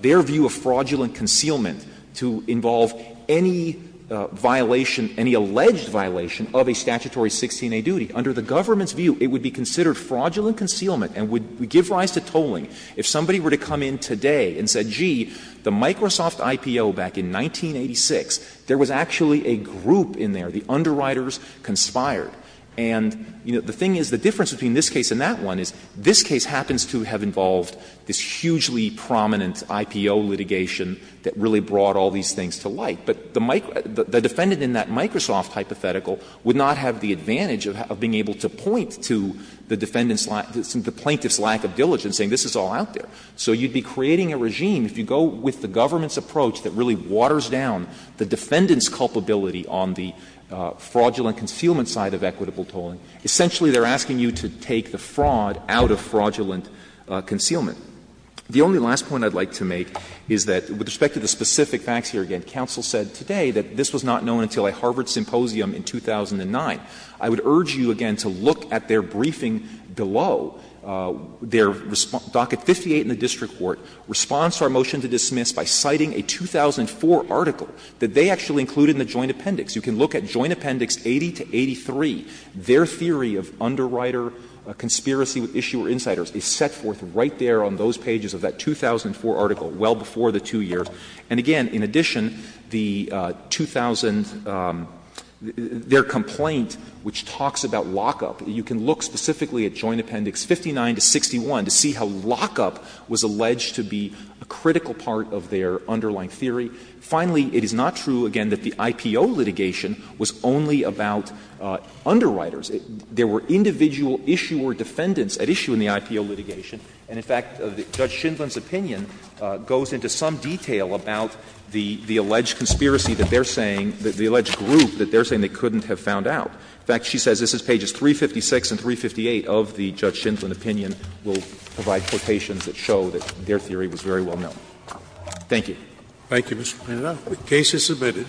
their view of fraudulent concealment to involve any violation, any alleged violation of a statutory 16a duty. Under the government's view, it would be considered fraudulent concealment and would give rise to tolling if somebody were to come in today and said, gee, the Microsoft IPO back in 1986, there was actually a group in there, the underwriters conspired. And, you know, the thing is, the difference between this case and that one is this case happens to have involved this hugely prominent IPO litigation that really brought all these things to light. But the defendant in that Microsoft hypothetical would not have the advantage of being able to point to the defendant's — the plaintiff's lack of diligence, saying this is all out there. So you'd be creating a regime, if you go with the government's approach, that really waters down the defendant's culpability on the fraudulent concealment side of equitable tolling. Essentially, they're asking you to take the fraud out of fraudulent concealment. The only last point I'd like to make is that, with respect to the specific facts here again, counsel said today that this was not known until a Harvard symposium in 2009. I would urge you again to look at their briefing below. Their — docket 58 in the district court responds to our motion to dismiss by citing a 2004 article that they actually included in the Joint Appendix. You can look at Joint Appendix 80 to 83. Their theory of underwriter conspiracy with issuer insiders is set forth right there on those pages of that 2004 article, well before the two years. And again, in addition, the 2000 — their complaint, which talks about lockup, you can look specifically at Joint Appendix 59 to 61 to see how lockup was alleged to be a critical part of their underlying theory. Finally, it is not true, again, that the IPO litigation was only about underwriters. There were individual issuer defendants at issue in the IPO litigation. And, in fact, Judge Shindlin's opinion goes into some detail about the — the alleged conspiracy that they're saying — the alleged group that they're saying they couldn't have found out. In fact, she says this is pages 356 and 358 of the Judge Shindlin opinion will provide that their theory was very well known. Thank you. Thank you, Mr. Panetta. The case is submitted.